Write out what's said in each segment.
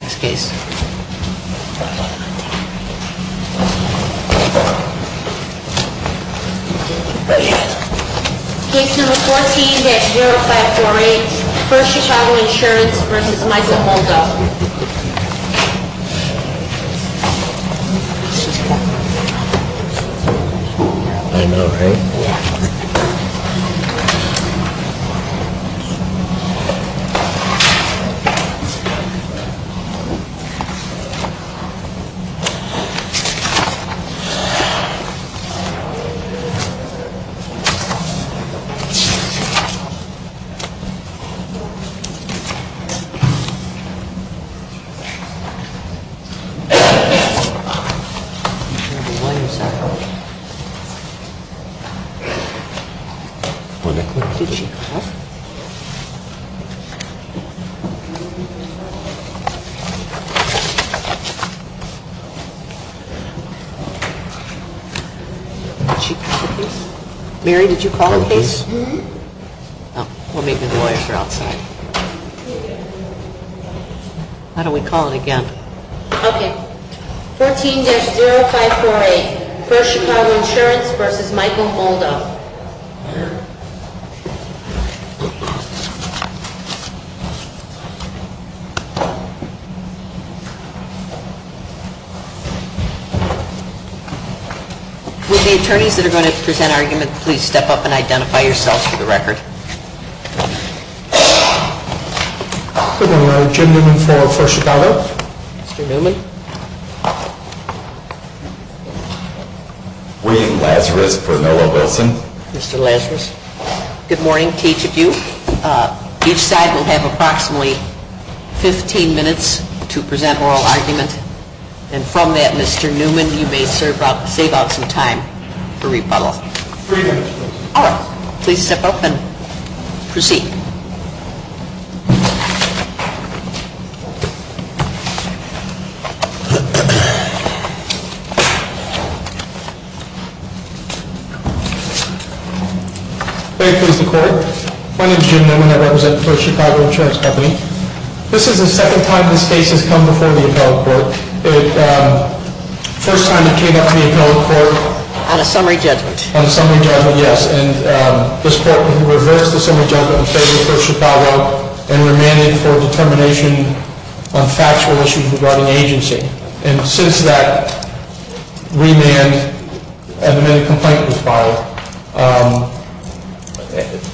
Next case. CASE 14-0548, First Chicago Insurance v. Michael Moldo. Next case is CASE 14-0549, Second Chicago Insurance v. Michael Moldo. Next case is CASE 14-0548, First Chicago Insurance v. Michael Moldo. Next case is CASE 14-0550, Second Chicago Insurance v. Michael Moldo. Would the attorneys that are going to present argument please step up and identify yourselves for the record. Good morning. Jim Newman for First Chicago. Mr. Newman. William Lazarus for Noah Wilson. Mr. Lazarus. Good morning to each of you. Each side will have approximately 15 minutes to present oral argument. And from that, Mr. Newman, you may save out some time for rebuttal. Three minutes, please. All right. Please step up and proceed. Thank you, Mr. Court. My name is Jim Newman. I represent First Chicago Insurance Company. This is the second time this case has come before the appellate court. First time it came up to the appellate court. On a summary judgment. On a summary judgment, yes. And this court reversed the summary judgment in favor of First Chicago and remanded for determination on factual issues regarding agency. And since that remand, an amended complaint was filed.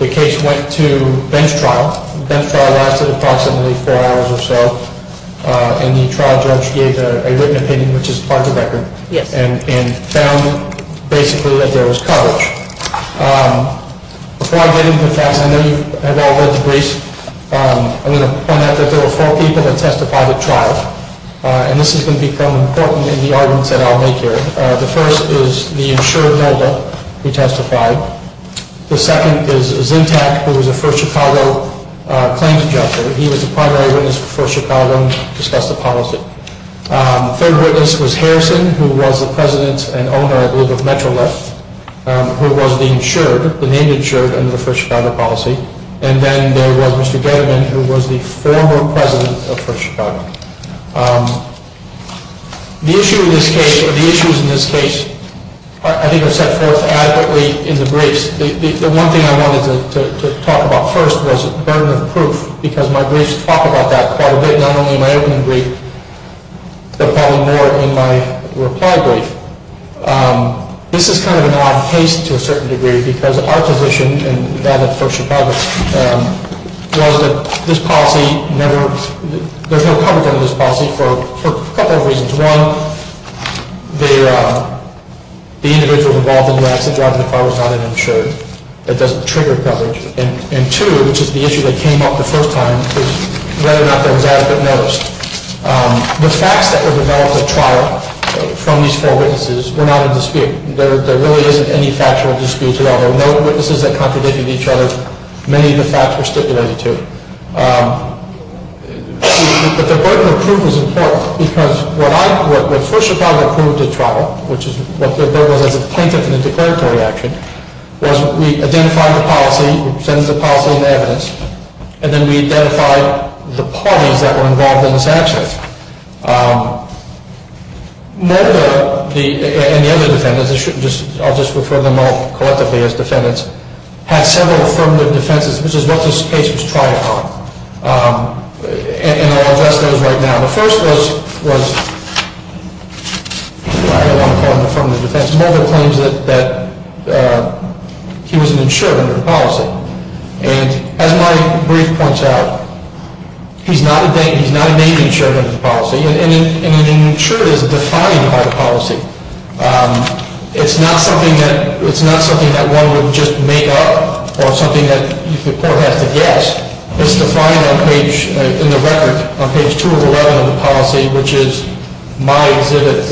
The case went to bench trial. Bench trial lasted approximately four hours or so. And the trial judge gave a written opinion, which is part of the record. Yes. And found basically that there was coverage. Before I get into the facts, I know you have all read the briefs. I'm going to point out that there were four people that testified at trial. And this is going to become important in the arguments that I'll make here. The first is the insured noble who testified. The second is Zintac, who was a First Chicago claims judge. He was a primary witness for First Chicago and discussed the policy. Third witness was Harrison, who was the president and owner, I believe, of Metrolift, who was the insured, the named insured under the First Chicago policy. And then there was Mr. Gettemann, who was the former president of First Chicago. The issue in this case, or the issues in this case, I think are set forth adequately in the briefs. The one thing I wanted to talk about first was burden of proof, because my briefs talk about that quite a bit, not only in my opening brief, but probably more in my reply brief. This is kind of an odd case to a certain degree, because our position in that of First Chicago was that this policy never, there's no coverage under this policy for a couple of reasons. One, the individual involved in the accident driving the car was not an insured. That doesn't trigger coverage. And two, which is the issue that came up the first time, was whether or not there was adequate notice. The facts that were developed at trial from these four witnesses were not in dispute. There really isn't any factual dispute at all. There were no witnesses that contradicted each other. Many of the facts were stipulated, too. But the burden of proof is important, because what I, what First Chicago approved at trial, which is what there was as a plaintiff in the declaratory action, was we identified the policy, we presented the policy and evidence, and then we identified the parties that were involved in this accident. Mulga and the other defendants, I'll just refer to them all collectively as defendants, had several affirmative defenses, which is what this case was tried for. And I'll address those right now. The first was, I don't want to call it an affirmative defense. Mulga claims that he was an insured under the policy. And as my brief points out, he's not a named insured under the policy. And an insured is defined by the policy. It's not something that one would just make up or something that the court has to guess. It's defined on page, in the record, on page 2 of 11 of the policy, which is my exhibit,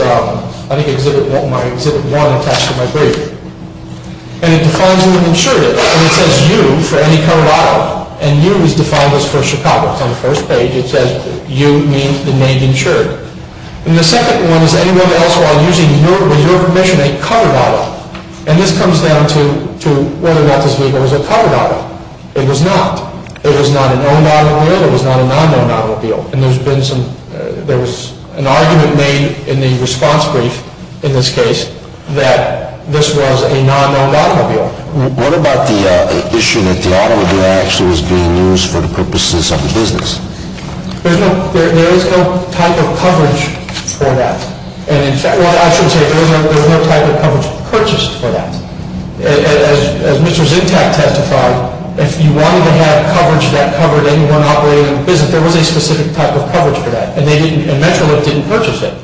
I think exhibit 1 attached to my brief. And it defines an insured. And it says, you, for any covered auto. And you is defined as First Chicago. So on the first page it says, you means the named insured. And the second one is anyone else while using your, with your permission, a covered auto. And this comes down to whether or not this vehicle was a covered auto. It was not. It was not an owned automobile. It was not a non-owned automobile. And there's been some, there was an argument made in the response brief, in this case, that this was a non-owned automobile. What about the issue that the automobile actually was being used for the purposes of the business? There's no, there is no type of coverage for that. And in fact, well, I should say there's no type of coverage purchased for that. As Mr. Zintak testified, if you wanted to have coverage that covered anyone operating the business, there was a specific type of coverage for that. And they didn't, and Metrolink didn't purchase it.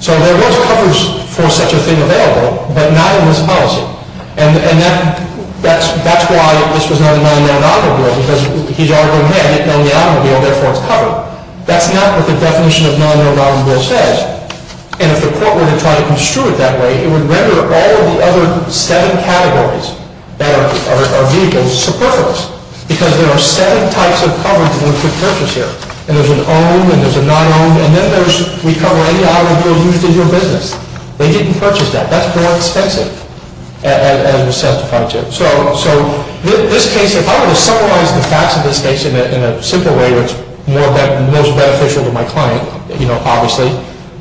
So there was coverage for such a thing available, but not in this policy. And that, that's why this was not a non-owned automobile, because he's arguing there, it's not an automobile, therefore it's covered. That's not what the definition of non-owned automobile says. And if the court were to try to construe it that way, it would render all of the other seven categories that are vehicles superfluous. Because there are seven types of coverage one could purchase here. And there's an owned, and there's a non-owned, and then there's, we cover any automobile used in your business. They didn't purchase that. That's more expensive, as was testified to. So this case, if I were to summarize the facts of this case in a simple way, which is most beneficial to my client, you know, obviously,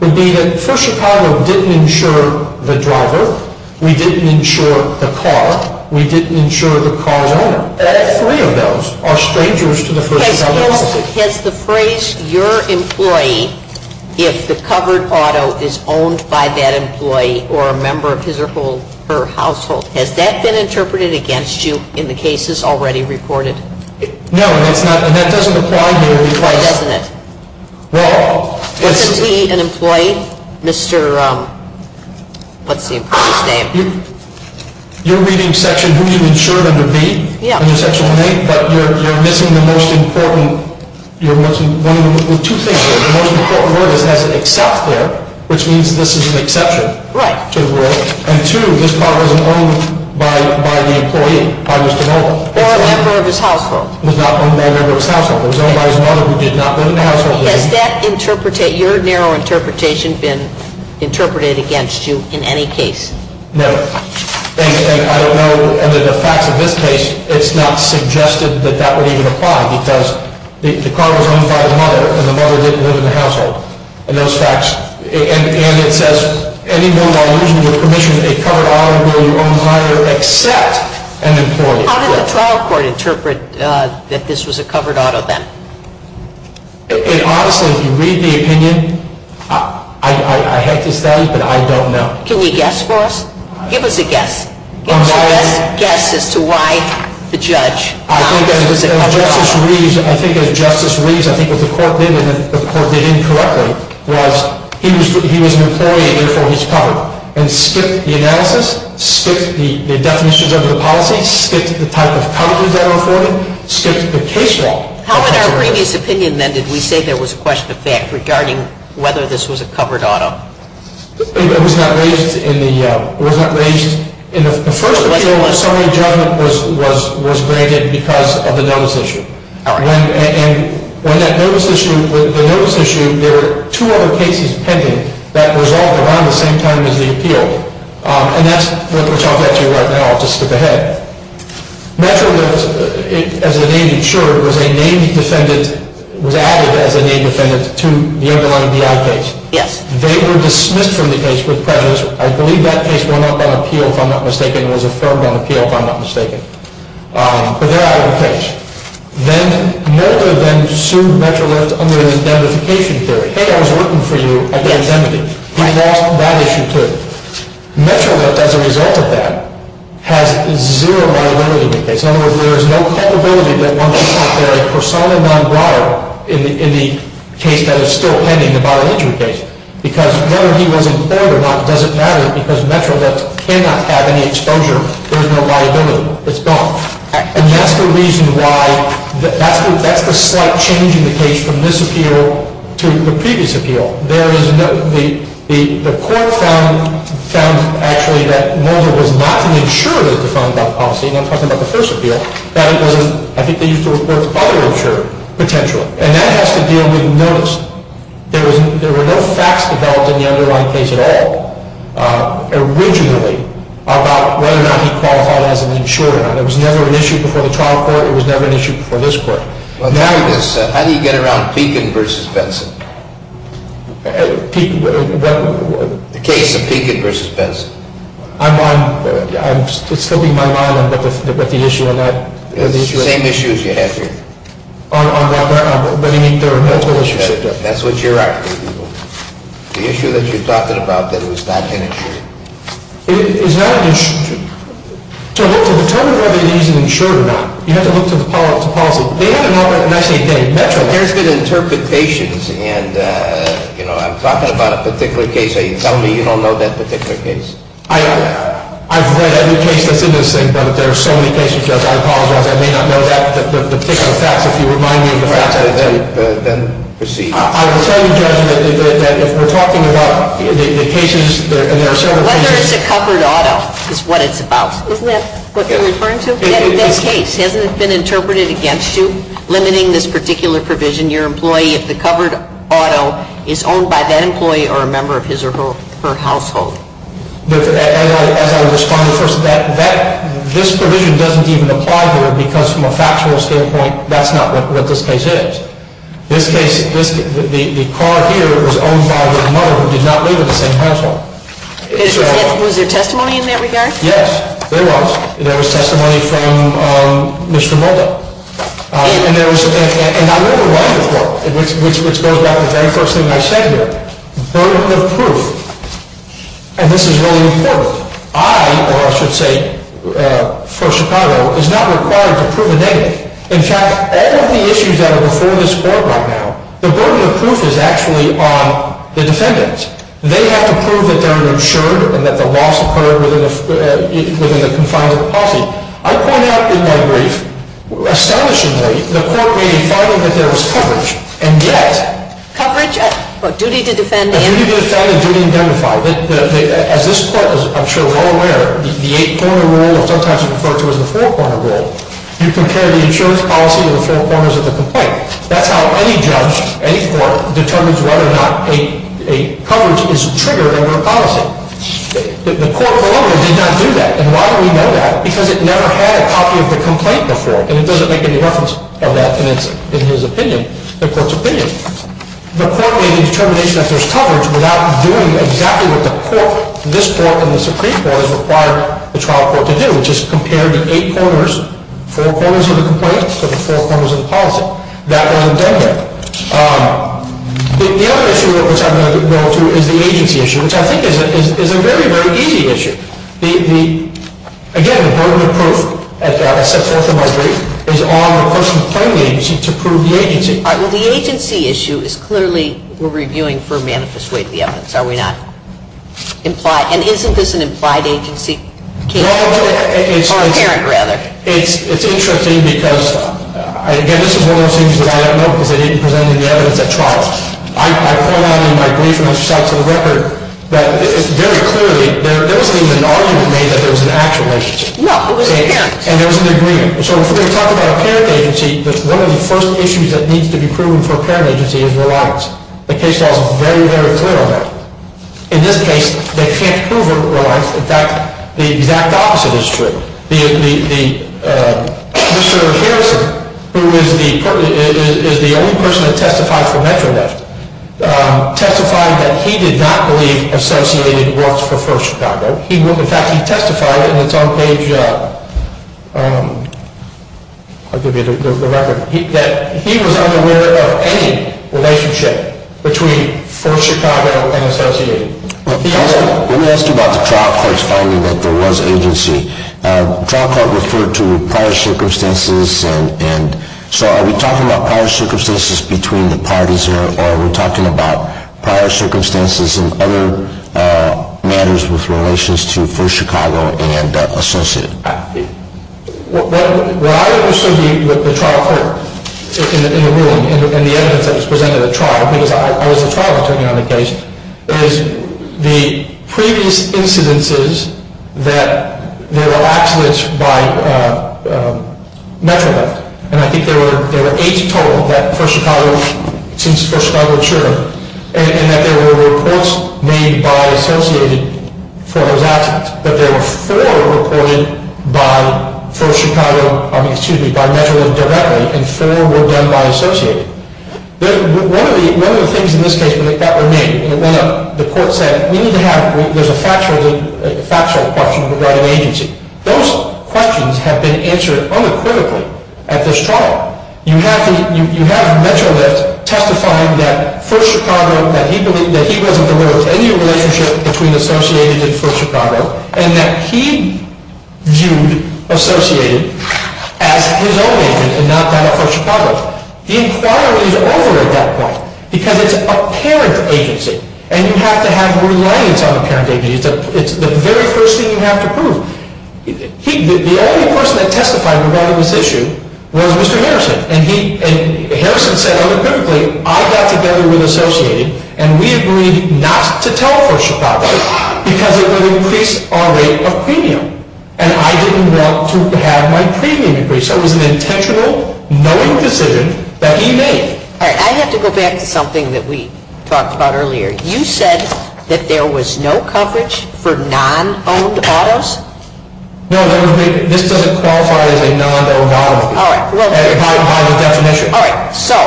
would be that First Chicago didn't insure the driver. We didn't insure the car. We didn't insure the car's owner. Three of those are strangers to the First Chicago policy. Has the phrase, your employee, if the covered auto is owned by that employee or a member of his or her household, has that been interpreted against you in the cases already reported? No. And that doesn't apply here. It doesn't. Well, Isn't he an employee? Mr. Let's see. You're reading section who you insured under B? Yeah. But you're missing the most important, two things here. The most important word is has an except there, which means this is an exception. Right. And two, this car wasn't owned by the employee, by Mr. Melvin. Or a member of his household. Was not owned by a member of his household. It was owned by his mother who did not live in the household. Has your narrow interpretation been interpreted against you in any case? No. And I don't know, under the facts of this case, it's not suggested that that would even apply, because the car was owned by his mother, and the mother didn't live in the household. And those facts, and it says any more than I'll use your permission, a covered auto will be owned by your except an employee. How did the trial court interpret that this was a covered auto then? Honestly, if you read the opinion, I had to study, but I don't know. Can you guess for us? Give us a guess. I'm sorry? Give us a guess as to why the judge thought this was a covered auto. I think as Justice Reeves, I think what the court did, and the court did incorrectly, was he was an employee, and therefore he's covered, and skipped the analysis, skipped the definitions under the policy, skipped the type of coverage that are afforded, skipped the case law. How in our previous opinion, then, did we say there was a question of fact regarding whether this was a covered auto? It was not raised in the first appeal when summary judgment was granted because of the notice issue. All right. And when that notice issue, the notice issue, there were two other cases pending that resolved around the same time as the appeal. And that's what we'll talk about to you right now. I'll just skip ahead. MetroLift, as the name ensured, was a named defendant, was added as a named defendant to the underlying DI case. Yes. They were dismissed from the case with prejudice. I believe that case went up on appeal, if I'm not mistaken. It was affirmed on appeal, if I'm not mistaken. But they're out of the case. Then, Mulder then sued MetroLift under the identification theory. Hey, I was working for you at the identity. He lost that issue, too. MetroLift, as a result of that, has zero liability in the case. In other words, there is no culpability that Mulder is out there a persona non grata in the case that is still pending, the viral injury case. Because whether he was in court or not doesn't matter because MetroLift cannot have any exposure. There's no liability. It's gone. And that's the reason why that's the slight change in the case from this appeal to the previous appeal. The court found, actually, that Mulder was not an insurer that was defined by the policy. And I'm talking about the first appeal. I think they used the word other insurer, potentially. And that has to do with notice. There were no facts developed in the underlying case at all, originally, about whether or not he qualified as an insurer. It was never an issue before the trial court. It was never an issue before this court. Well, tell me this. How do you get around Pekin v. Benson? The case of Pekin v. Benson. I'm still in my mind about the issue on that. It's the same issue as you have here. On what? I mean, their relationship. That's what you're after, people. The issue that you're talking about, that he was not an insurer. He's not an insurer. To determine whether he's an insurer or not, you have to look to the policy. There's been interpretations. And, you know, I'm talking about a particular case. Are you telling me you don't know that particular case? I've read every case that's in this thing, but there are so many cases, Judge. I apologize. I may not know the particular facts. If you remind me of the facts, I will then proceed. I will tell you, Judge, that if we're talking about the cases, and there are several cases. Whether it's a covered auto is what it's about. Isn't that what you're referring to? In this case, hasn't it been interpreted against you, limiting this particular provision, your employee, if the covered auto is owned by that employee or a member of his or her household? As I responded first to that, this provision doesn't even apply here, because from a factual standpoint, that's not what this case is. This case, the car here was owned by the mother who did not live in the same household. Was there testimony in that regard? Yes, there was. There was testimony from Mr. Mulder. And I wrote a writing report, which goes back to the very first thing I said here. Burden of proof. And this is really important. I, or I should say First Chicago, is not required to prove anything. In fact, all of the issues that are before this Court right now, the burden of proof is actually on the defendants. They have to prove that they're insured and that the loss occurred within the confines of the policy. I point out in my brief, astonishingly, the Court made a finding that there was coverage. And yet— Coverage? Duty to defend and— Duty to defend and duty to identify. As this Court is, I'm sure, well aware, the eight-corner rule is sometimes referred to as the four-corner rule. You compare the insurance policy to the four corners of the complaint. That's how any judge, any court, determines whether or not a coverage is triggered under a policy. The court, however, did not do that. And why do we know that? Because it never had a copy of the complaint before. And it doesn't make any reference of that. And it's in his opinion, the Court's opinion. The Court made a determination that there's coverage without doing exactly what the Court, this Court, and the Supreme Court has required the trial court to do, which is compare the eight corners, four corners of the complaint to the four corners of the policy. That wasn't done here. The other issue which I'm going to go to is the agency issue, which I think is a very, very easy issue. Again, the burden of proof, as I set forth in my brief, is on the person claiming the agency to prove the agency. Well, the agency issue is clearly we're reviewing for manifest way to the evidence, are we not? And isn't this an implied agency case? Or a parent, rather. It's interesting because, again, this is one of those things that I don't know because they didn't present any evidence at trial. I point out in my brief and I've set out to the record that it's very clearly there wasn't even an argument made that there was an actual agency. No, it was a parent. And there was an agreement. So if we're going to talk about a parent agency, one of the first issues that needs to be proven for a parent agency is reliance. The case law is very, very clear on that. In this case, they can't prove a reliance. In fact, the exact opposite is true. Mr. Harrison, who is the only person that testified for MetroNet, testified that he did not believe Associated Works for First Chicago. Let me ask you about the trial court's finding that there was agency. The trial court referred to prior circumstances. And so are we talking about prior circumstances between the parties or are we talking about prior circumstances in other matters with relations to First Chicago and Associated? Where I understood the trial court in the ruling and the evidence that was presented at trial, because I was the trial attorney on the case, is the previous incidences that there were accidents by MetroNet. And I think there were eight total for Chicago since First Chicago occurred. And that there were reports made by Associated for those accidents. But there were four reported by MetroNet directly and four were done by Associated. One of the things in this case that remained, the court said, we need to have it. There's a factual question regarding agency. Those questions have been answered unequivocally at this trial. You have MetroNet testifying that First Chicago, that he wasn't aware of any relationship between Associated and First Chicago, and that he viewed Associated as his own agency and not that of First Chicago. The inquiry is over at that point because it's a parent agency and you have to have reliance on a parent agency. It's the very first thing you have to prove. The only person that testified regarding this issue was Mr. Harrison. And Harrison said unequivocally, I got together with Associated and we agreed not to tell First Chicago because it would increase our rate of premium. And I didn't want to have my premium increased. So it was an intentional, knowing decision that he made. I have to go back to something that we talked about earlier. You said that there was no coverage for non-owned autos? No, this doesn't qualify as a non-owned auto by the definition. All right. So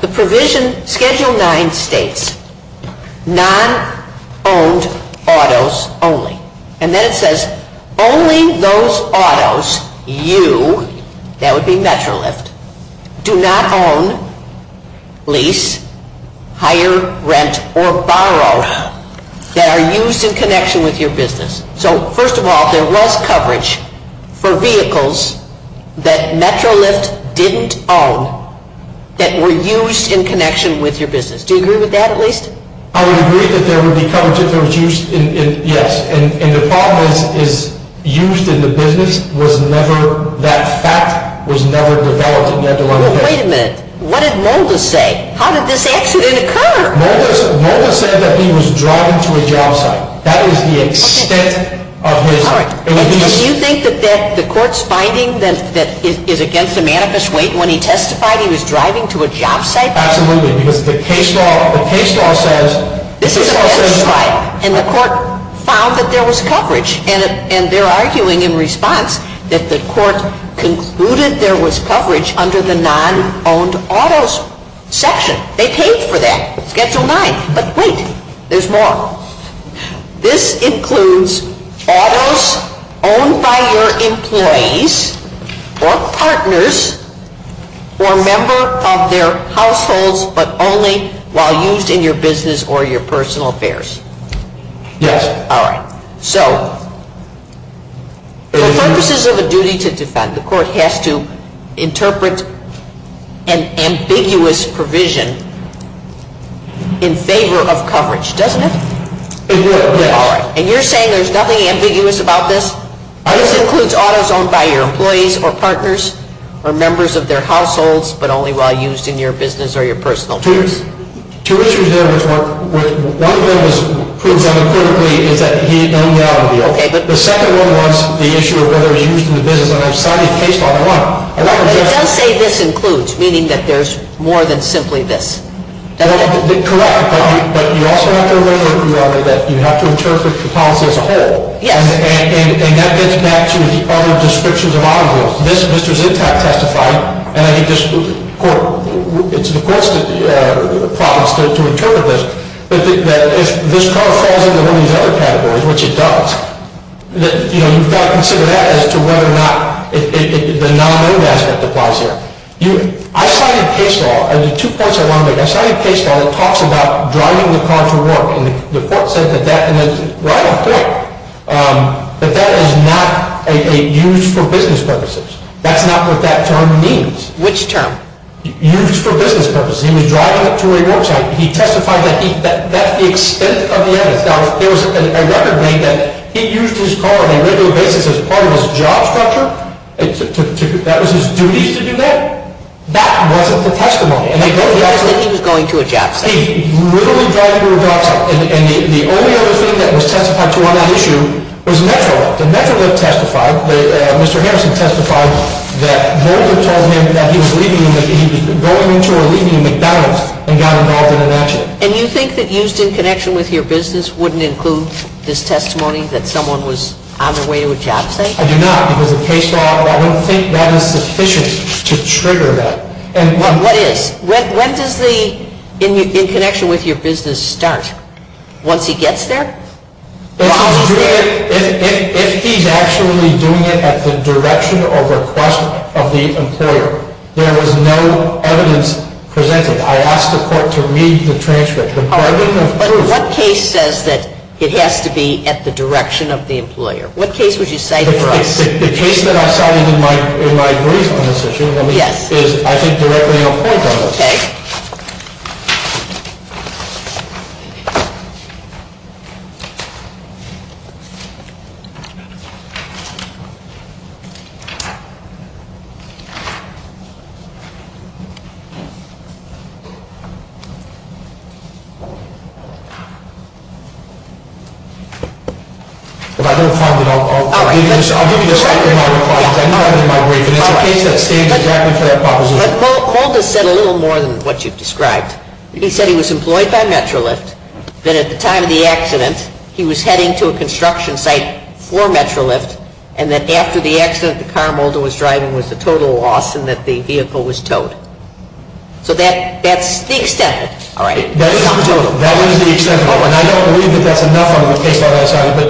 the provision schedule 9 states non-owned autos only. And then it says only those autos, you, that would be MetroLift, do not own, lease, hire, rent, or borrow that are used in connection with your business. So first of all, there was coverage for vehicles that MetroLift didn't own that were used in connection with your business. Do you agree with that at least? I would agree that there would be coverage if it was used in, yes. And the problem is used in the business was never, that fact was never developed. Well, wait a minute. What did Mulder say? How did this accident occur? Mulder said that he was driving to a job site. That is the extent of his. Do you think that the court's finding that is against the manifest weight when he testified he was driving to a job site? Absolutely. Because the case law says. This is a better strike. And the court found that there was coverage. And they're arguing in response that the court concluded there was coverage under the non-owned autos section. They paid for that. Schedule 9. But wait. There's more. This includes autos owned by your employees or partners or a member of their households but only while used in your business or your personal affairs. Yes. All right. So for purposes of a duty to defend, the court has to interpret an ambiguous provision in favor of coverage, doesn't it? It would. All right. And you're saying there's nothing ambiguous about this? This includes autos owned by your employees or partners or members of their households but only while used in your business or your personal affairs. Two issues there. One of them is that he owned the automobile. The second one was the issue of whether it was used in the business. And I've cited case law. It does say this includes, meaning that there's more than simply this. Correct. But you also have to remember, Your Honor, that you have to interpret the policy as a whole. Yes. And that gets back to the other descriptions of automobiles. This, Mr. Zitak testified, and I think this court, it's the court's promise to interpret this. But if this car falls into one of these other categories, which it does, you've got to consider that as to whether or not the non-owned aspect applies here. I cited case law, and there are two points I want to make. I cited case law that talks about driving the car to work. And the court said that that is not used for business purposes. That's not what that term means. Which term? Used for business purposes. He was driving it to where he works at. He testified that that's the extent of the evidence. Now, if there was a record made that he used his car on a regular basis as part of his job structure, that was his duties to do that? That wasn't the testimony. He said he was going to a job site. He literally drove it to a job site. And the only other thing that was testified to on that issue was Metro. The Metro testified, Mr. Henderson testified, that Voyner told him that he was going into or leaving a McDonald's and got involved in an accident. And you think that used in connection with your business wouldn't include this testimony that someone was on their way to a job site? I do not. I don't think that is sufficient to trigger that. What is? When does the, in connection with your business, start? Once he gets there? If he's actually doing it at the direction or request of the employer, there was no evidence presented. I asked the court to read the transcript. But what case says that it has to be at the direction of the employer? What case would you cite for us? The case that I cited in my brief on this issue is, I think, directly on point on this. Okay. If I don't find it, I'll give you a second in my reply because I knew I had it in my brief and it's a case that stands directly for that proposition. But Mulder said a little more than what you've described. He said he was employed by Metrolift, that at the time of the accident he was heading to a construction site for Metrolift, and that after the accident the car Mulder was driving was a total loss and that the vehicle was towed. So that's the extent of it. All right. That is the extent of it. And I don't believe that that's enough on the case that I cited. But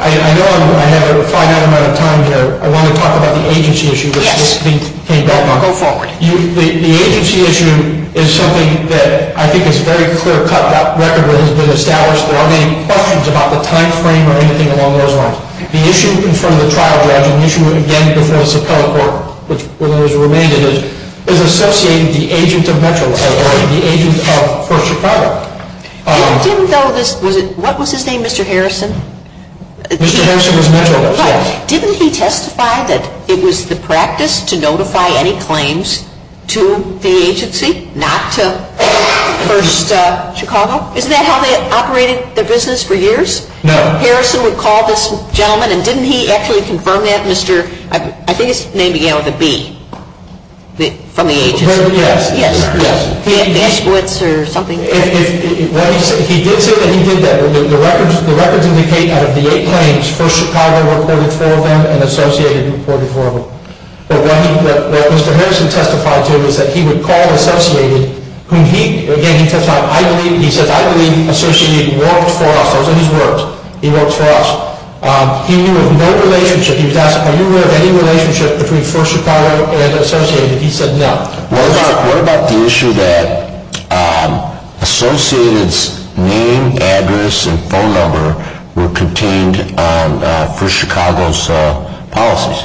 I know I have a finite amount of time here. I want to talk about the agency issue. Yes. Go forward. The agency issue is something that I think is very clear-cut. That record has been established. There aren't any questions about the time frame or anything along those lines. The issue in front of the trial judge, an issue, again, before the Suprema Court, which was always related, is associating the agent of Metrolift or the agent of First Chicago. I didn't know this. What was his name, Mr. Harrison? Mr. Harrison was Metrolift, yes. Didn't he testify that it was the practice to notify any claims to the agency, not to First Chicago? Isn't that how they operated their business for years? No. Harrison would call this gentleman, and didn't he actually confirm that, Mr. I think his name began with a B, from the agency. Yes. Yes. He had big squids or something. He did say that he did that. The records indicate out of the eight claims, First Chicago reported four of them and Associated reported four of them. But what Mr. Harrison testified to is that he would call Associated, whom he, again, he testified, I believe, he says, I believe Associated worked for us. Those are his words. He works for us. He knew of no relationship. He was asked, are you aware of any relationship between First Chicago and Associated? He said no. What about the issue that Associated's name, address, and phone number were contained on First Chicago's policies?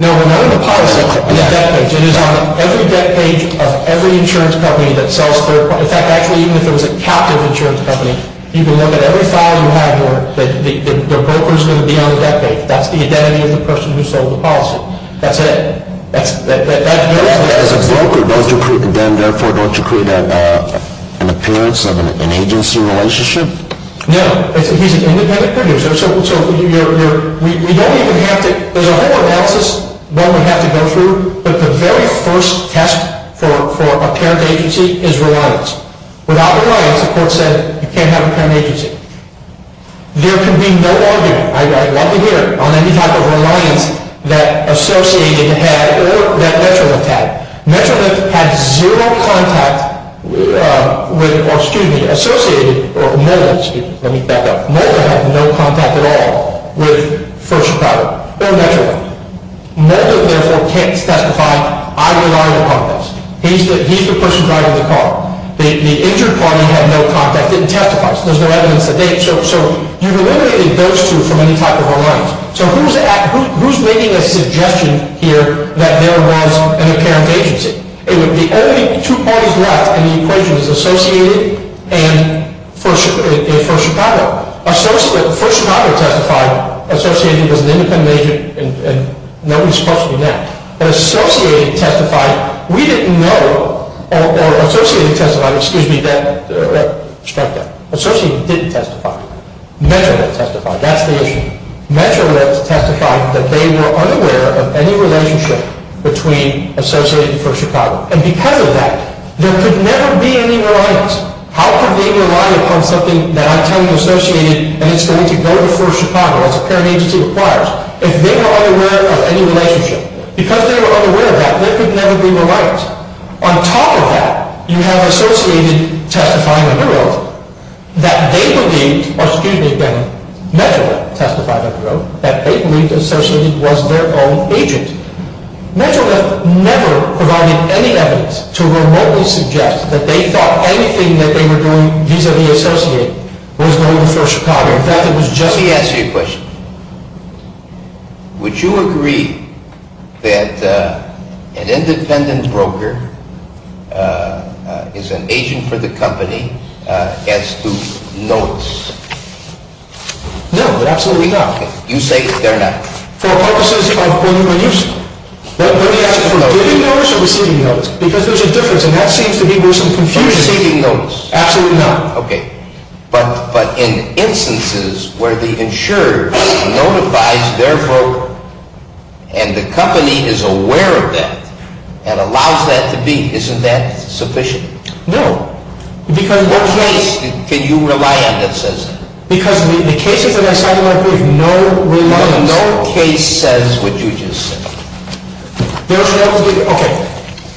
No, none of the policies are on the debt page. It is on every debt page of every insurance company that sells third parties. In fact, actually, even if it was a captive insurance company, you can look at every file you have, and the broker is going to be on the debt page. That's the identity of the person who sold the policy. That's it. As a broker, then, therefore, don't you create an appearance of an agency relationship? No. He's an independent producer. So we don't even have to, there's a whole analysis that we have to go through, but the very first test for a parent agency is reliance. Without reliance, the court said, you can't have a parent agency. There can be no argument, I'd love to hear it, on any type of reliance that Associated had or that Metrolinx had. Metrolinx had zero contact with, or, excuse me, Associated, or Mulder, let me back up, Mulder had no contact at all with First Chicago or Metrolinx. Mulder, therefore, can't testify. I rely upon this. He's the person driving the car. The injured party had no contact, didn't testify. There's no evidence that they, so you've eliminated those two from any type of reliance. So who's making a suggestion here that there was an apparent agency? The only two parties left in the equation is Associated and First Chicago. First Chicago testified, Associated was an independent agent, and nobody's supposed to be now. But Associated testified, we didn't know, or Associated testified, excuse me, strike that, Associated didn't testify. Metrolinx testified, that's the issue. Metrolinx testified that they were unaware of any relationship between Associated and First Chicago. And because of that, there could never be any reliance. How could they rely upon something that I'm telling you Associated, and it's going to go to First Chicago as a parent agency requires, if they were unaware of any relationship. Because they were unaware of that, there could never be reliance. On top of that, you have Associated testifying under oath that they believed, or excuse me, Metrolinx testifying under oath, that they believed Associated was their own agent. Metrolinx never provided any evidence to remotely suggest that they thought anything that they were doing vis-a-vis Associated was going to First Chicago. Let me ask you a question. Would you agree that an independent broker is an agent for the company as to notes? No, absolutely not. You say they're not. For purposes of when you are using them. Let me ask you, are you giving notes or receiving notes? Because there's a difference, and that seems to be where some confusion is. Are you receiving notes? Absolutely not. Okay. But in instances where the insurer notifies their broker, and the company is aware of that, and allows that to be, isn't that sufficient? No. What case can you rely on that says that? Because the cases that I cited in my brief, no reliance. No case says what you just said. Okay.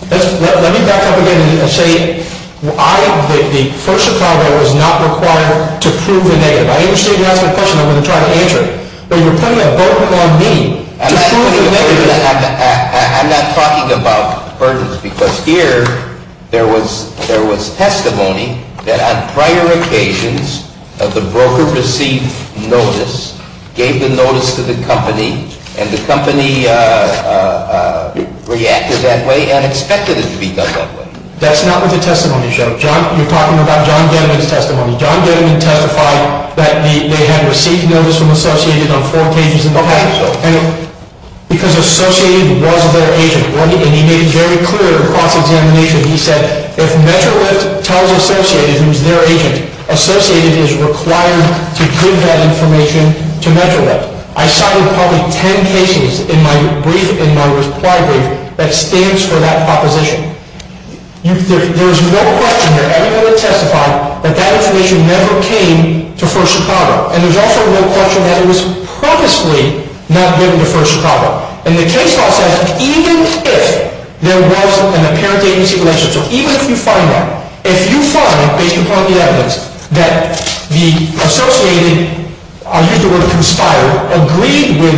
Let me back up again and say the First Chicago was not required to prove the negative. I understand you asked that question. I'm going to try to answer it. But you're putting a burden on me to prove the negative. I'm not talking about burdens because here there was testimony that on prior occasions the broker received notice, gave the notice to the company, and the company reacted that way and expected it to be done that way. That's not what the testimony showed. You're talking about John Gediman's testimony. John Gediman testified that they had received notice from Associated on four cases in the past. Okay. Because Associated was their agent, and he made it very clear across examination. He said if MetroLift tells Associated, who is their agent, Associated is required to give that information to MetroLift. I cited probably ten cases in my brief, in my reply brief, that stands for that proposition. There is no question that everybody testified that that information never came to First Chicago. And there's also no question that it was purposely not given to First Chicago. And the case law says even if there was an apparent agency relation, so even if you find that, if you find, based upon the evidence, that the Associated, I'll use the word conspired, agreed with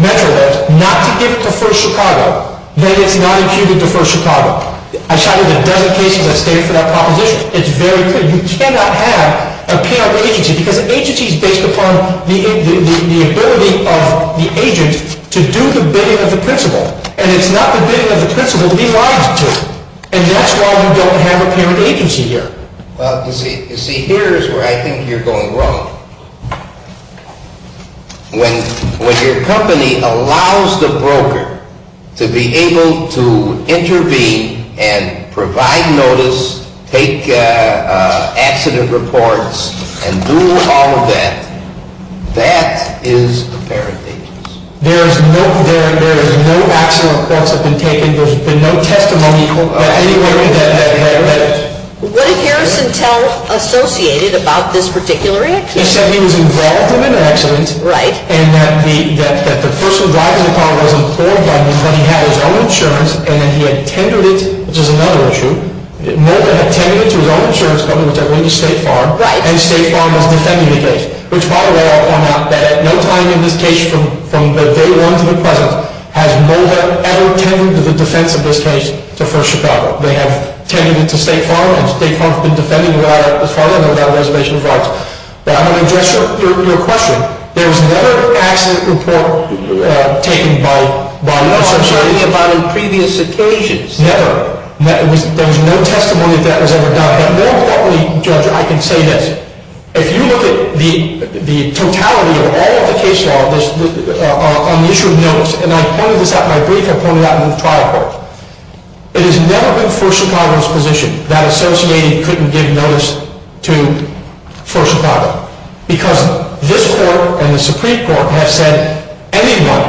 MetroLift not to give it to First Chicago, then it's not imputed to First Chicago. I cited a dozen cases that stand for that proposition. It's very clear. You cannot have an apparent agency because an agency is based upon the ability of the agent to do the bidding of the principal. And it's not the bidding of the principal he lies to. And that's why you don't have an apparent agency here. Well, you see, here is where I think you're going wrong. When your company allows the broker to be able to intervene and provide notice, take accident reports, and do all of that, that is apparent agency. There is no accident reports that have been taken. There's been no testimony anywhere in that record. What did Harrison tell Associated about this particular incident? He said he was involved in an accident and that the person driving the car was employed by him because he had his own insurance and that he had tendered it, which is another issue. Mulder had tended it to his own insurance company, which I believe is State Farm, and State Farm was defending the case, which, by the way, I'll point out, that at no time in this case from day one to the present has Mulder ever tended to the defense of this case to First Chicago. They have tended it to State Farm, and State Farm has been defending it as far as I know without reservation of rights. But I'm going to address your question. There was never an accident report taken by law, as I'm sure any of mine on previous occasions. Never. There was no testimony that that was ever done. But more importantly, Judge, I can say this. If you look at the totality of all of the case law on the issue of notice, and I pointed this out in my brief and I pointed it out in the trial court, it has never been First Chicago's position that Associated couldn't give notice to First Chicago because this Court and the Supreme Court have said anyone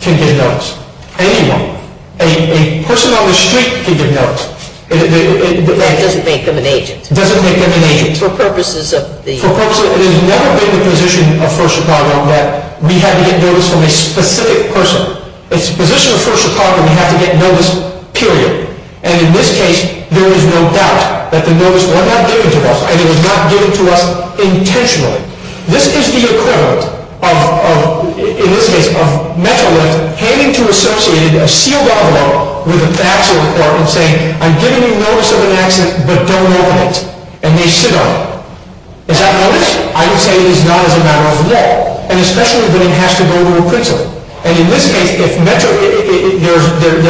can give notice. Anyone. A person on the street can give notice. And it doesn't make them an agent. It doesn't make them an agent. For purposes of the… For purposes of… It has never been the position of First Chicago that we had to get notice from a specific person. It's the position of First Chicago that we have to get notice, period. And in this case, there is no doubt that the notice was not given to us, and it was not given to us intentionally. This is the equivalent of, in this case, of Metrolinx handing to Associated a sealed envelope with an accident report and saying, I'm giving you notice of an accident, but don't open it. And they sit on it. Is that notice? I would say it is not as a matter of law. And especially that it has to go to a principal. And in this case, there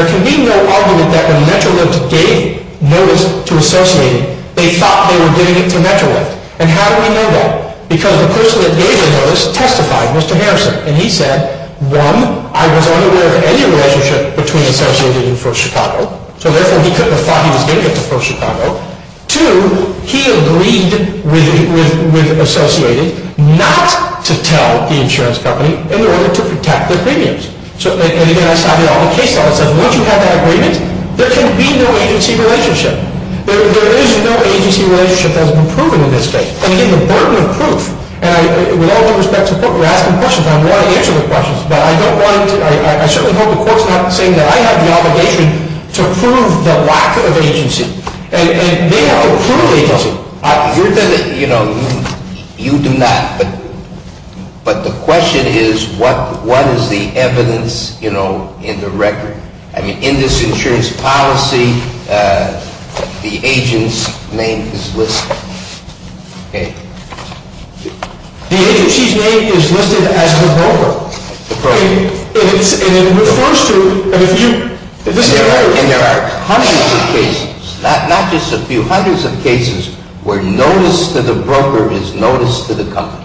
can be no argument that when Metrolinx gave notice to Associated, they thought they were giving it to Metrolinx. And how do we know that? Because the person that gave the notice testified, Mr. Harrison. And he said, one, I was unaware of any relationship between Associated and First Chicago, so therefore he couldn't have thought he was going to get to First Chicago. Two, he agreed with Associated not to tell the insurance company in order to protect their premiums. And again, I cited all the case law that says once you have that agreement, there can be no agency relationship. There is no agency relationship that has been proven in this case. And again, the burden of proof, and with all due respect to the court, we're asking questions. I want to answer the questions, but I don't want to. I certainly hope the court's not saying that I have the obligation to prove the lack of agency. And they have a proven agency. You're going to, you know, you do not. But the question is, what is the evidence, you know, in the record? I mean, in this insurance policy, the agent's name is listed. Okay. The agency's name is listed as the broker. The broker. And it refers to, I mean, if you, if this is your record. And there are hundreds of cases, not just a few, hundreds of cases where notice to the broker is notice to the company.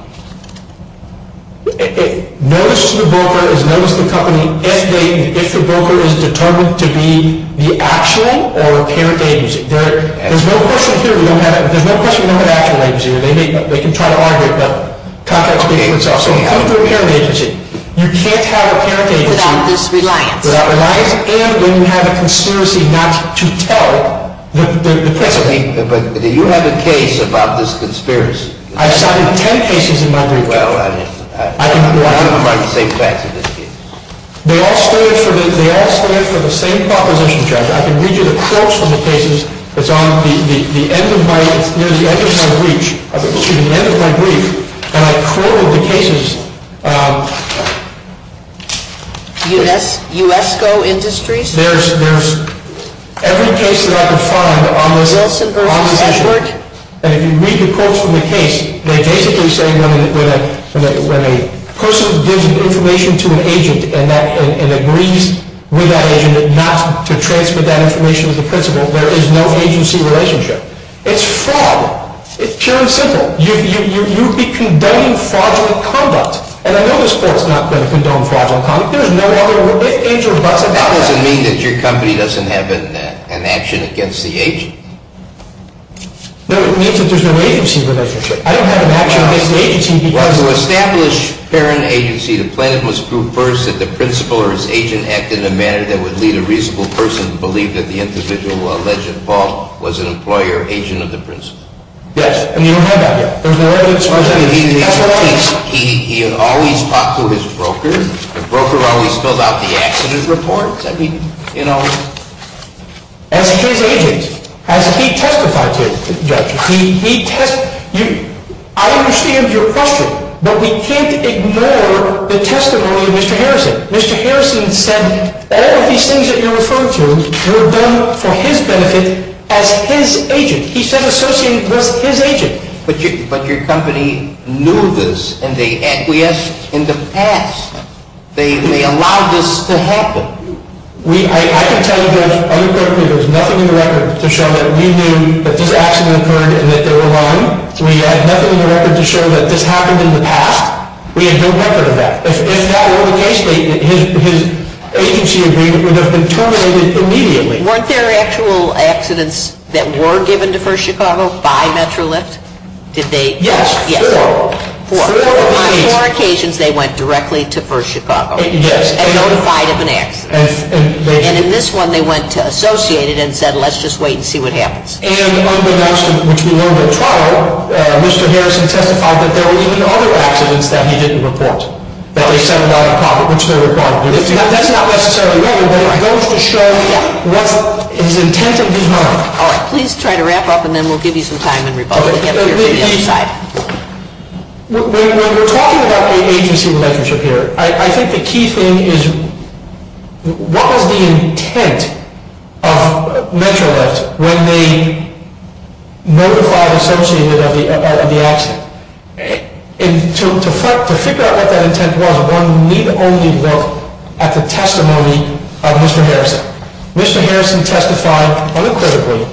Notice to the broker is notice to the company if the broker is determined to be the actual or apparent agency. There's no question here we don't have, there's no question we don't have an actual agency. They can try to argue it, but contracts between themselves. So even if they're an apparent agency, you can't have an apparent agency. Without this reliance. And then you have a conspiracy not to tell the principal. But do you have a case about this conspiracy? I've cited 10 cases in my brief. Well, I mean. They all stand for the same proposition, Judge. I can read you the quotes from the cases. It's on the end of my, you know, the end of my brief. Excuse me, the end of my brief. And I quoted the cases. USCO Industries? There's every case that I could find on this issue. Wilson versus Edgeworth? And if you read the quotes from the case, they're basically saying when a person gives information to an agent and agrees with that agent not to transfer that information to the principal, there is no agency relationship. It's fraud. It's pure and simple. You'd be condoning fraudulent conduct. And I know this court's not going to condone fraudulent conduct. There's no other age or business. That doesn't mean that your company doesn't have an action against the agent. No, it means that there's no agency relationship. I don't have an action against the agency because of that. To establish apparent agency, the plaintiff must prove first that the principal or his agent acted in a manner that would lead a reasonable person to believe that the individual alleged fault was an employee or agent of the principal. Yes. And you don't have that here. There's no evidence presented here. He always talked to his broker. The broker always filled out the accident reports. I mean, you know. As his agent, as he testified to, Judge, he testified. I understand your question, but we can't ignore the testimony of Mr. Harrison. Mr. Harrison said that all of these things that you're referring to were done for his benefit as his agent. He said associated with his agent. But your company knew this, and they acquiesced in the past. They allowed this to happen. I can tell you, Judge, unequivocally, there's nothing in the record to show that we knew that this accident occurred and that they were wrong. We have nothing in the record to show that this happened in the past. We have no record of that. If that were the case, his agency agreement would have been terminated immediately. Weren't there actual accidents that were given to First Chicago by MetroLift? Did they? Yes, four. Four. On four occasions, they went directly to First Chicago and notified of an accident. And in this one, they went to associated and said, let's just wait and see what happens. And unbeknownst to him, which we learned at trial, Mr. Harrison testified that there were even other accidents that he didn't report. That's not necessarily relevant, but it goes to show what is intent of his mind. All right. Please try to wrap up, and then we'll give you some time and rebuttal. When we're talking about agency relationship here, I think the key thing is, what was the intent of MetroLift when they notified associated of the accident? To figure out what that intent was, one need only look at the testimony of Mr. Harrison. Mr. Harrison testified unequivocally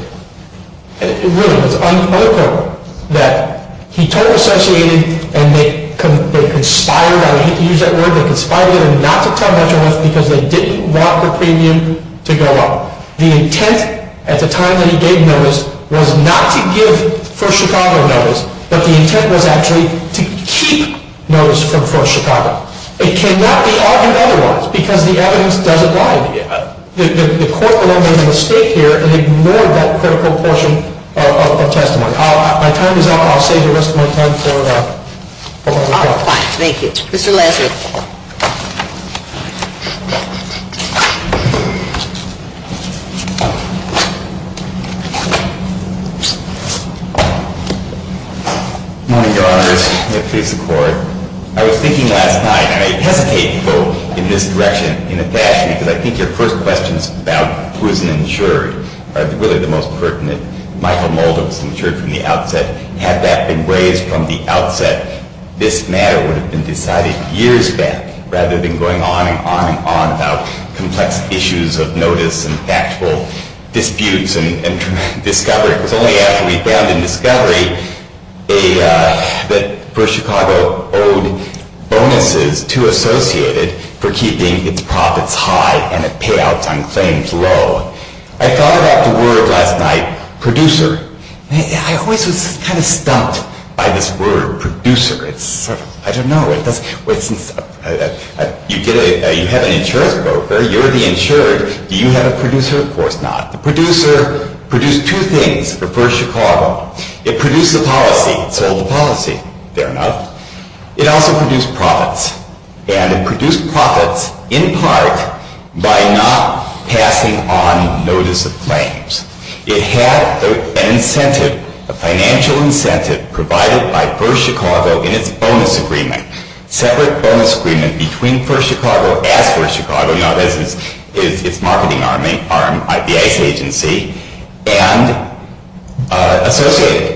that he told associated, and they conspired, I hate to use that word, they conspired not to tell MetroLift because they didn't want the premium to go up. The intent at the time that he gave notice was not to give First Chicago notice, but the intent was actually to keep notice from First Chicago. It cannot be argued otherwise, because the evidence does apply. The court alone made a mistake here and ignored that critical portion of testimony. My time is up. I'll save the rest of my time for the court. All right. Thank you. Mr. Lansing. Good morning, Your Honor. May it please the Court. I was thinking last night, and I hesitate to go in this direction in the past because I think your first questions about who's an insured are really the most pertinent. Michael Mulder was insured from the outset. Had that been raised from the outset, this matter would have been decided. It would have been decided years back rather than going on and on and on about complex issues of notice and factual disputes and discovery. It was only after we found in discovery that First Chicago owed bonuses to Associated for keeping its profits high and its payouts on claims low. I thought about the word last night, producer. I always was kind of stumped by this word, producer. I don't know. You have an insurance broker. You're the insured. Do you have a producer? Of course not. The producer produced two things for First Chicago. It produced the policy. It sold the policy, fair enough. It also produced profits. And it produced profits in part by not passing on notice of claims. It had an incentive, a financial incentive provided by First Chicago in its bonus agreement, separate bonus agreement between First Chicago and First Chicago, in other words, its marketing arm, the ICE agency, and Associated.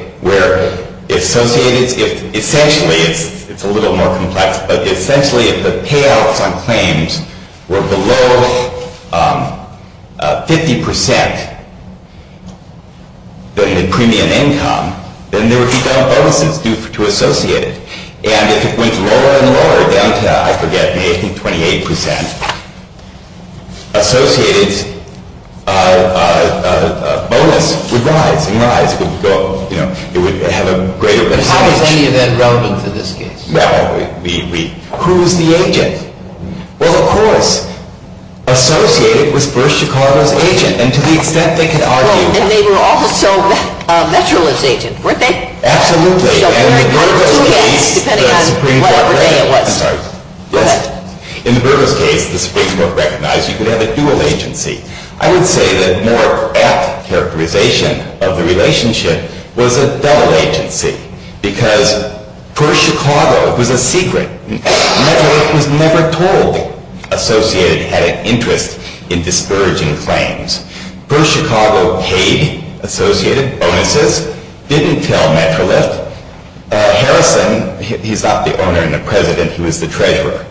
Essentially, it's a little more complex, but essentially if the payouts on claims were below 50% premium income, then there would be no bonuses due to Associated. And if it went lower and lower, down to, I forget, maybe 28%, Associated's bonus would rise and rise. It would have a greater percentage. But how is any of that relevant in this case? Who is the agent? Well, of course, Associated was First Chicago's agent, and to the extent they could argue. And they were also Metrolinx's agent, weren't they? Absolutely. In the Burgos case, the Supreme Court recognized you could have a dual agency. I would say that more apt characterization of the relationship was a double agency, because First Chicago was a secret. Metrolinx was never told Associated had an interest in discouraging claims. First Chicago paid Associated bonuses, didn't tell Metrolinx. Harrison, he's not the owner and the president, he was the treasurer,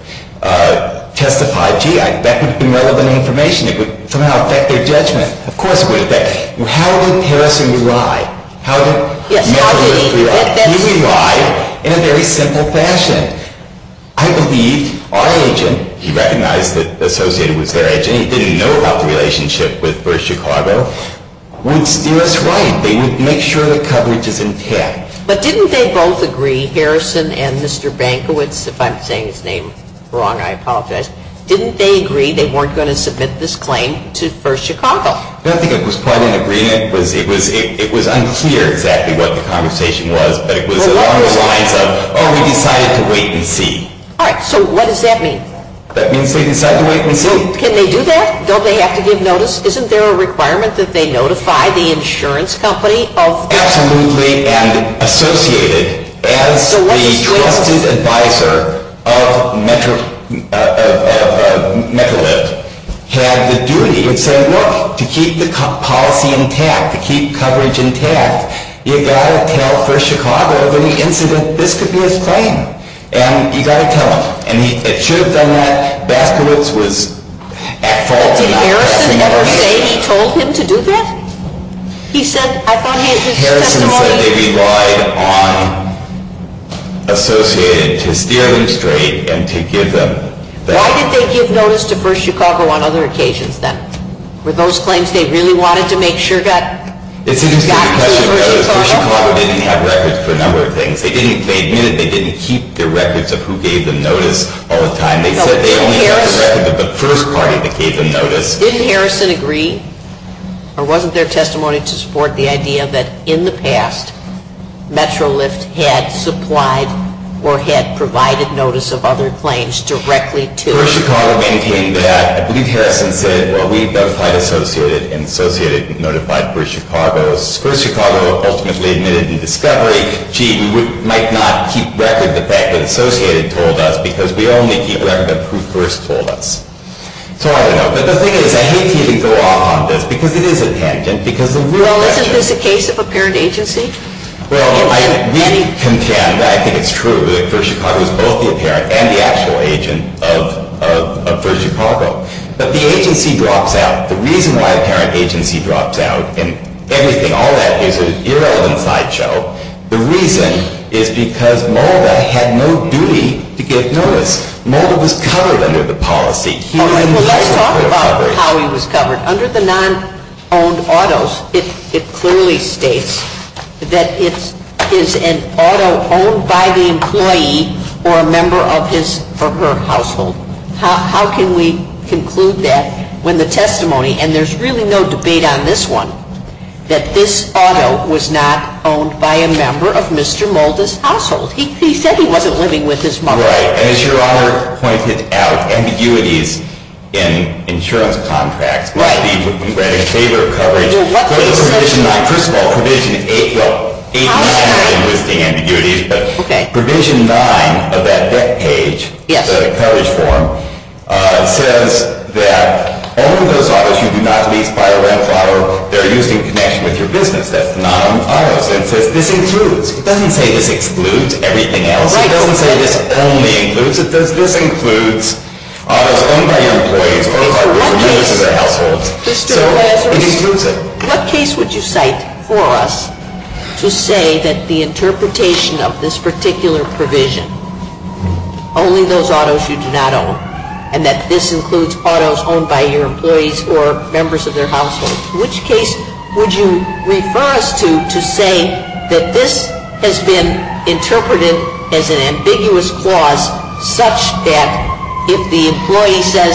testified, that would be relevant information. It would somehow affect their judgment. Of course it would affect. How would Harrison rely? He would rely in a very simple fashion. I believe our agent, he recognized that Associated was their agent, he didn't know about the relationship with First Chicago, would steer us right. They would make sure the coverage is intact. But didn't they both agree, Harrison and Mr. Bankowitz, if I'm saying his name wrong, I apologize, didn't they agree they weren't going to submit this claim to First Chicago? I don't think it was quite an agreement. It was unclear exactly what the conversation was, but it was along the lines of, oh, we decided to wait and see. All right. So what does that mean? That means they decided to wait and see. Can they do that? Don't they have to give notice? Isn't there a requirement that they notify the insurance company of? Absolutely, and Associated, as the trusted advisor of Metcalfe, had the duty to say, look, to keep the policy intact, to keep coverage intact, you've got to tell First Chicago of any incident. This could be his claim. And you've got to tell them. And it should have done that. Baskowitz was at fault. Did Harrison ever say he told him to do that? He said, I thought he had his testimony. Harrison said they relied on Associated to steer them straight and to give them. Why did they give notice to First Chicago on other occasions then? Were those claims they really wanted to make sure got to First Chicago? It's an interesting question because First Chicago didn't have records for a number of things. They didn't keep the records of who gave them notice all the time. They said they only had the record of the first party that gave them notice. Didn't Harrison agree, or wasn't there testimony to support the idea that in the past, Metrolift had supplied or had provided notice of other claims directly to First Chicago? First Chicago maintained that. I believe Harrison said, well, we notified Associated, and Associated notified First Chicago. First Chicago ultimately admitted in discovery, gee, we might not keep record of the fact that Associated told us because we only keep record of who first told us. But the thing is, I hate to even go off on this because it is a tangent. Well, isn't this a case of apparent agency? Well, we contend, I think it's true, that First Chicago is both the apparent and the actual agent of First Chicago. But the agency drops out. The reason why an apparent agency drops out and everything, all that is irrelevant sideshow, the reason is because Mulder had no duty to give notice. Mulder was covered under the policy. Let's talk about how he was covered. Under the non-owned autos, it clearly states that it is an auto owned by the employee or a member of his or her household. How can we conclude that when the testimony, and there's really no debate on this one, that this auto was not owned by a member of Mr. Mulder's household? He said he wasn't living with his mother. Right. And as Your Honor pointed out, ambiguities in insurance contracts. Right. We read in favor of coverage. Well, what does it say? First of all, Provision 8, well, 8 has nothing to do with the ambiguities. Okay. But Provision 9 of that deck page, the coverage form, says that all of those autos you do not lease by a rent-filer, they're used in connection with your business. That's the non-owned autos. It says this includes. It doesn't say this excludes everything else. It doesn't say this only includes it. This includes autos owned by your employees or members of your household. So it includes it. What case would you cite for us to say that the interpretation of this particular provision, only those autos you do not own, and that this includes autos owned by your employees or members of their household, which case would you refer us to to say that this has been interpreted as an ambiguous clause such that if the employee says,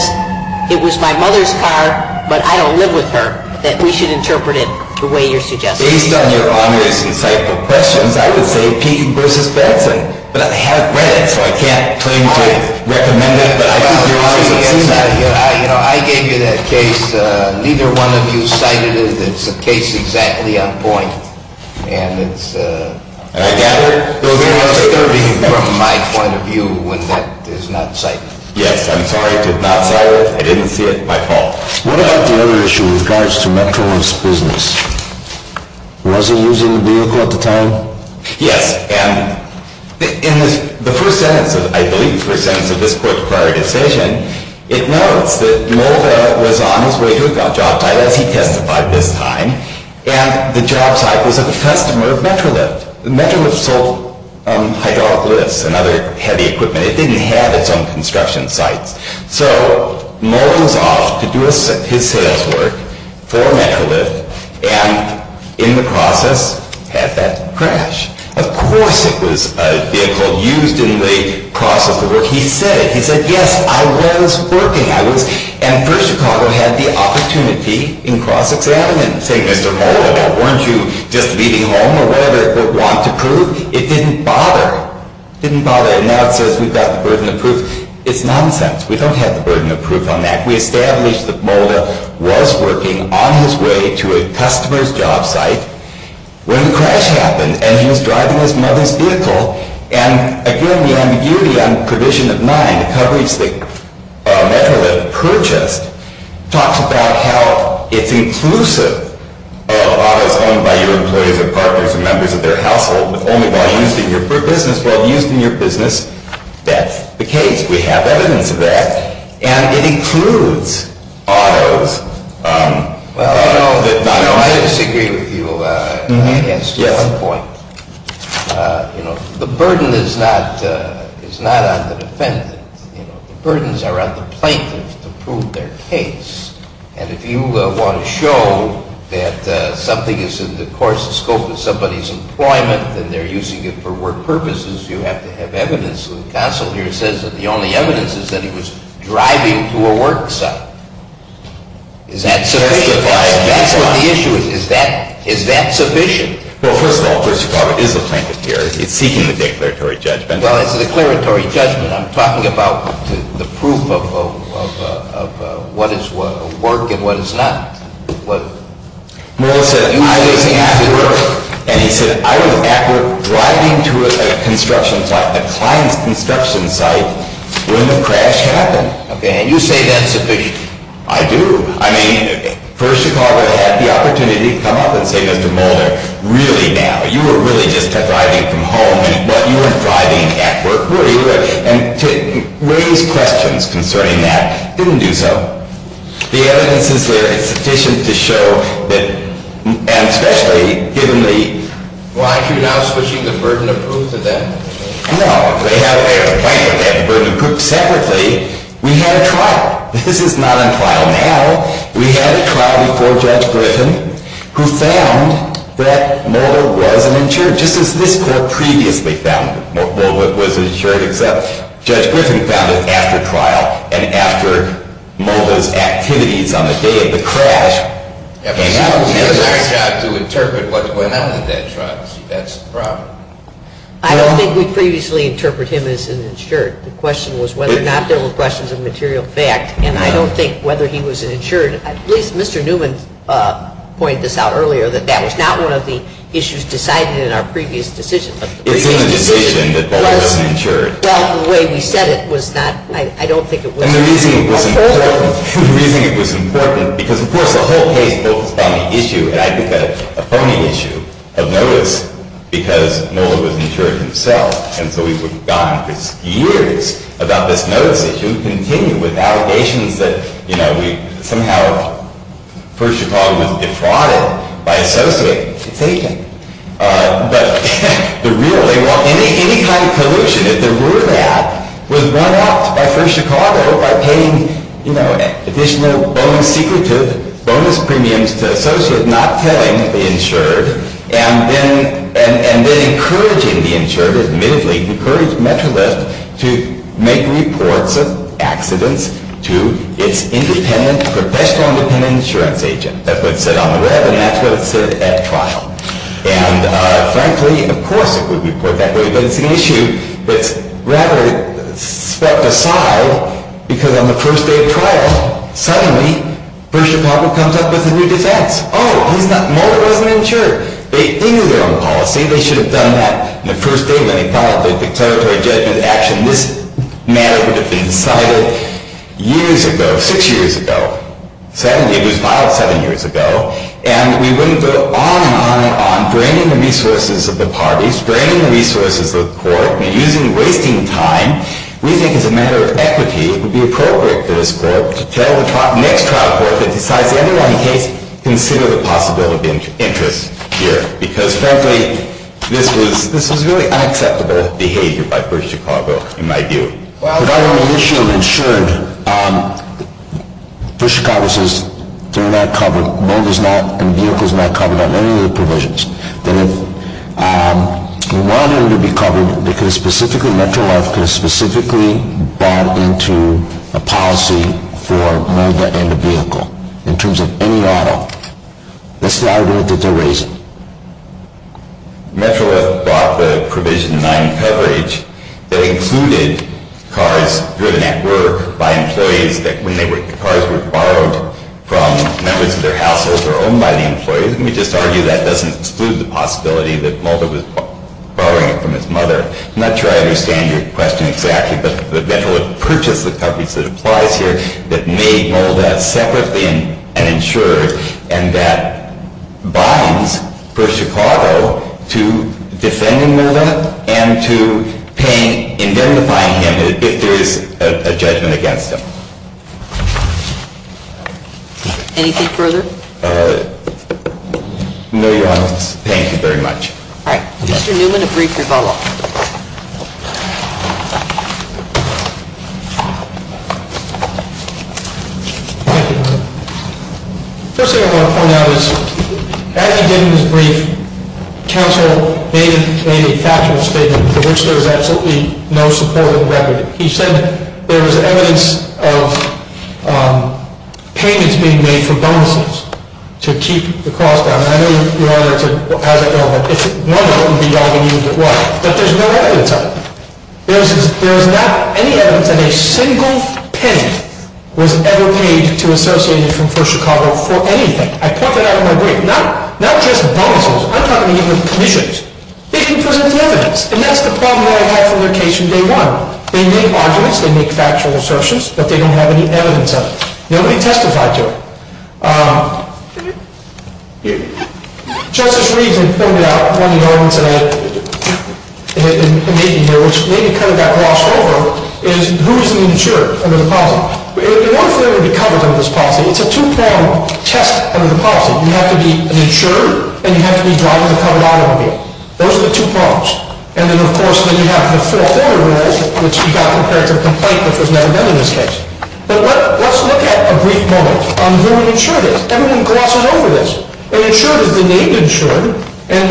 it was my mother's car, but I don't live with her, that we should interpret it the way you're suggesting? Based on Your Honor's encyclopedic questions, I could say P versus Benson. But I haven't read it, so I can't claim to recommend it. I gave you that case. Neither one of you cited it. It's a case exactly on point. And it's very disturbing from my point of view when that is not cited. Yes, I'm sorry. I did not cite it. I didn't see it. My fault. What about the other issue with regards to Metro's business? Was it using the vehicle at the time? Yes. In the first sentence, I believe the first sentence of this court's prior decision, it notes that Mulder was on his way to a job site, as he testified this time, and the job site was of a customer of Metrolift. Metrolift sold hydraulic lifts and other heavy equipment. It didn't have its own construction sites. So Mulder was off to do his sales work for Metrolift and, in the process, had that crash. Of course it was a vehicle used in the process of the work. He said it. He said, yes, I was working. And First Chicago had the opportunity in cross-examination. Say, Mr. Mulder, weren't you just leaving home or whatever, or want to prove? It didn't bother. It didn't bother. And now it says we've got the burden of proof. It's nonsense. We don't have the burden of proof on that. We established that Mulder was working on his way to a customer's job site when the crash happened. And he was driving his mother's vehicle. And, again, the ambiguity on provision of mine, the coverage that Metrolift purchased, talks about how it's inclusive of autos owned by your employees and partners and members of their household, but only while used in your business, while used in your business. That's the case. We have evidence of that. And it includes autos. Well, I disagree with you against one point. The burden is not on the defendant. The burdens are on the plaintiff to prove their case. And if you want to show that something is in the course and scope of somebody's employment and they're using it for work purposes, you have to have evidence. The counsel here says that the only evidence is that he was driving to a work site. Is that sufficient? That's what the issue is. Is that sufficient? Well, first of all, Mr. Carver is a plaintiff here. It's seeking the declaratory judgment. Well, it's a declaratory judgment. I'm talking about the proof of what is work and what is not. And he said, I was at work driving to a construction site, a client's construction site, when the crash happened. Okay. And you say that's sufficient. I do. I mean, first, Chicago had the opportunity to come up and say, Mr. Moeller, really now, you were really just driving from home. And what you were driving at work, really. And to raise questions concerning that, didn't do so. The evidence is there. It's sufficient to show that, and especially given the… Well, aren't you now switching the burden of proof to them? No. They have their plaintiff. They have the burden of proof separately. We had a trial. This is not a trial now. We had a trial before Judge Griffin, who found that Moeller was an insured. Just as this Court previously found Moeller was an insured, except Judge Griffin found it after trial and after Moeller's activities on the day of the crash came out. He has a hard job to interpret what went on in that trial. See, that's the problem. I don't think we previously interpreted him as an insured. The question was whether or not there were questions of material fact. And I don't think whether he was an insured. At least Mr. Newman pointed this out earlier, that that was not one of the issues decided in our previous decision. It's in the decision that Moeller was an insured. Well, the way we said it was not. I don't think it was. And the reason it was important, the reason it was important, because, of course, the whole case focused on the issue, and I think a phony issue, of notice, because Moeller was an insured himself. And so we were gone for years about this notice issue. We continued with allegations that, you know, we somehow, First Chicago was defrauded by associate taxation. But the real thing, any kind of pollution, if there were that, was run out by First Chicago by paying, you know, additional bonus premiums to associates not paying the insured, and then encouraging the insured, admittedly, encourage MetroLift to make reports of accidents to its independent, professional independent insurance agent. That's what it said on the web, and that's what it said at trial. And, frankly, of course it would report that way, but it's an issue that's rather swept aside because on the first day of trial, suddenly, First Chicago comes up with a new defense. Oh, Moeller wasn't insured. They knew their own policy. They should have done that on the first day when they filed the declaratory judgment action. This matter would have been decided years ago, six years ago. Suddenly, it was filed seven years ago, and we wouldn't go on and on and on, draining the resources of the parties, draining the resources of the court, and wasting time. We think, as a matter of equity, it would be appropriate for this court to tell the next trial court that decides to, in any one case, consider the possibility of interest here, because, frankly, this was really unacceptable behavior by First Chicago, in my view. But on the issue of insured, First Chicago says they're not covered, Moeller's not, and the vehicle's not covered on any of the provisions. That if Moeller needed to be covered, they could have specifically, Metroleth could have specifically bought into a policy for Moeller and the vehicle, in terms of any auto. That's the argument that they're raising. Metroleth bought the Provision 9 coverage that included cars driven at work by employees that, when the cars were borrowed from members of their households or owned by the employees. Let me just argue that doesn't exclude the possibility that Moeller was borrowing it from his mother. I'm not sure I understand your question exactly, but that Metroleth purchased the coverage that applies here that made Moeller separately an insurer, and that binds First Chicago to defending Moeller and to indemnifying him if there is a judgment against him. Anything further? No, Your Honor. Thank you very much. All right. Mr. Newman, a brief rebuttal. Thank you, Your Honor. The first thing I want to point out is, as he did in his brief, counsel made a factual statement for which there was absolutely no support in the record. He said there was evidence of payments being made for bonuses to keep the cost down. I know you're all there to have that go home. It's normal to be yelling at you, but what? That there's no evidence of it. There is not any evidence that a single penny was ever paid to Associated from First Chicago for anything. I point that out in my brief. Not just bonuses. I'm talking even commissions. They didn't present any evidence, and that's the problem that I have from their case from day one. They make arguments. They make factual assertions, but they don't have any evidence of it. Nobody testified to it. Justice Reeves had pointed out one of the arguments that I'm making here, which maybe kind of got glossed over, is who is an insurer under the policy? It would be wonderful if there would be coverage under this policy. It's a two-pronged test under the policy. You have to be an insurer, and you have to be driving the covered automobile. Those are the two prongs. And then, of course, then you have the fulfillment rules, which you got compared to the complaint, which was never done in this case. But let's look at a brief moment on who an insurer is. Everyone glosses over this. An insurer is the named insurer, and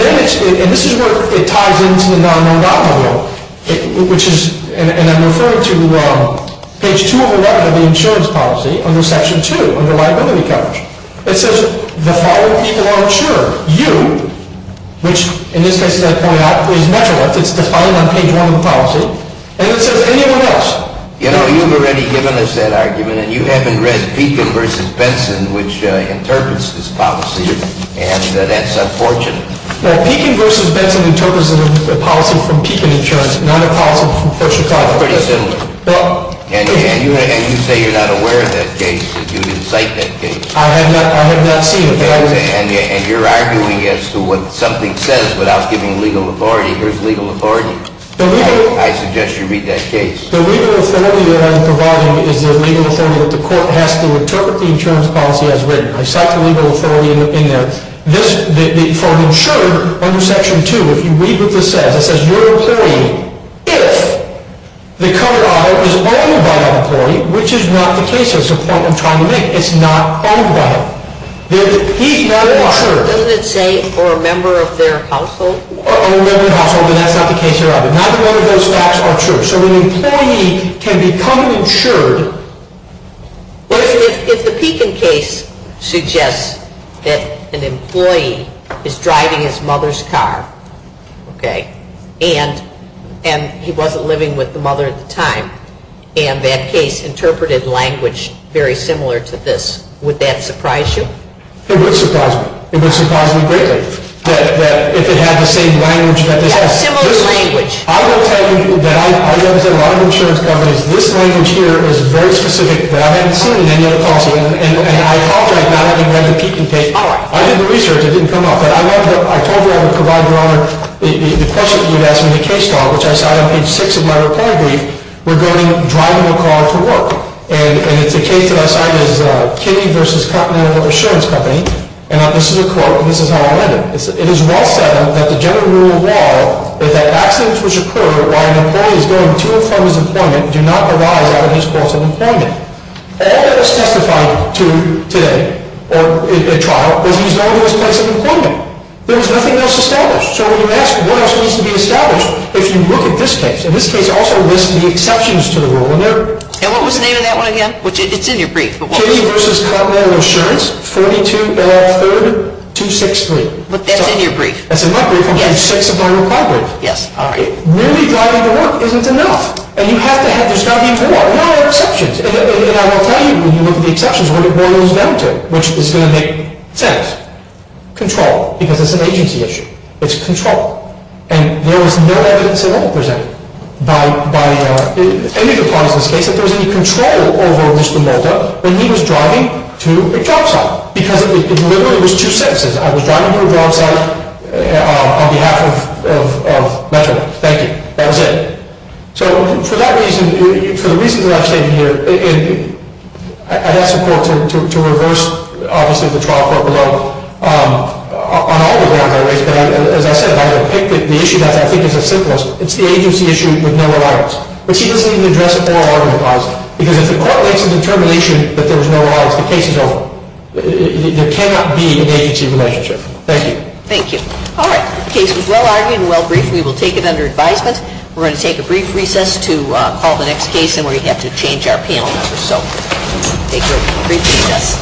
this is where it ties into the non-non-bond model, which is, and I'm referring to page 2 of 11 of the insurance policy under Section 2 under liability coverage. It says the following people are insured. You, which in this case, as I point out, is Metrolinx. It's defined on page 1 of the policy, and it says anyone else. You know, you've already given us that argument, and you haven't read Pekin v. Benson, which interprets this policy, and that's unfortunate. Well, Pekin v. Benson interprets a policy from Pekin Insurance, not a policy from First Chicago. Pretty similar. And you say you're not aware of that case, that you didn't cite that case. I have not seen it. And you're arguing as to what something says without giving legal authority. Here's legal authority. I suggest you read that case. The legal authority that I'm providing is the legal authority that the court has to interpret the insurance policy as written. I cite the legal authority in there. This, for an insurer under Section 2, if you read what this says, it says your employee, if the covered audit is owned by that employee, which is not the case. That's the point I'm trying to make. It's not owned by him. He's not an insurer. Doesn't it say, or a member of their household? Or a member of the household, but that's not the case here either. Neither one of those facts are true. So an employee can become insured. Well, if the Pekin case suggests that an employee is driving his mother's car, okay, and he wasn't living with the mother at the time, and that case interpreted language very similar to this, would that surprise you? It would surprise me. It would surprise me greatly, that if it had the same language that this has. Yeah, similar language. I will tell you that I represent a lot of insurance companies. This language here is very specific that I haven't seen in any other policy. And I apologize now that you read the Pekin case. I did the research. It didn't come up. But I told you I would provide your Honor the question you had asked me in the case file, which I cite on page 6 of my reply brief, regarding driving a car to work. And it's a case that I cite as Kinney v. Continental Insurance Company. And this is a quote, and this is how I read it. It is well said that the general rule of law is that accidents which occur while an employee is going to and from his employment do not arise out of his course of employment. All that is testified to today, or in the trial, was that he was going to his place of employment. There was nothing else established. So when you ask what else needs to be established, if you look at this case, and this case also lists the exceptions to the rule. And what was the name of that one again? It's in your brief. Kinney v. Continental Insurance, 4203263. That's in your brief. That's in my brief on page 6 of my reply brief. Yes, all right. Merely driving to work isn't enough. And you have to have – there's got to be more. There are exceptions. And I will tell you when you look at the exceptions what it boils down to, which is going to make sense. Control, because it's an agency issue. It's control. And there was no evidence at all presented by any of the parties in this case that there was any control over Mr. Mulder when he was driving to a job site. Because it literally was two sentences. I was driving to a job site on behalf of Metro. Thank you. That was it. So for that reason, for the reasons that I've stated here, I have support to reverse, obviously, the trial court below. On all the grounds I raised, as I said, I will pick the issue that I think is the simplest. It's the agency issue with no alliance. But she doesn't even address the oral argument clause. Because if the court makes a determination that there was no alliance, the case is over. There cannot be an agency relationship. Thank you. Thank you. All right. The case was well-argued and well-briefed. We will take it under advisement. We're going to take a brief recess to call the next case in where we have to change our panel members. So take your brief recess.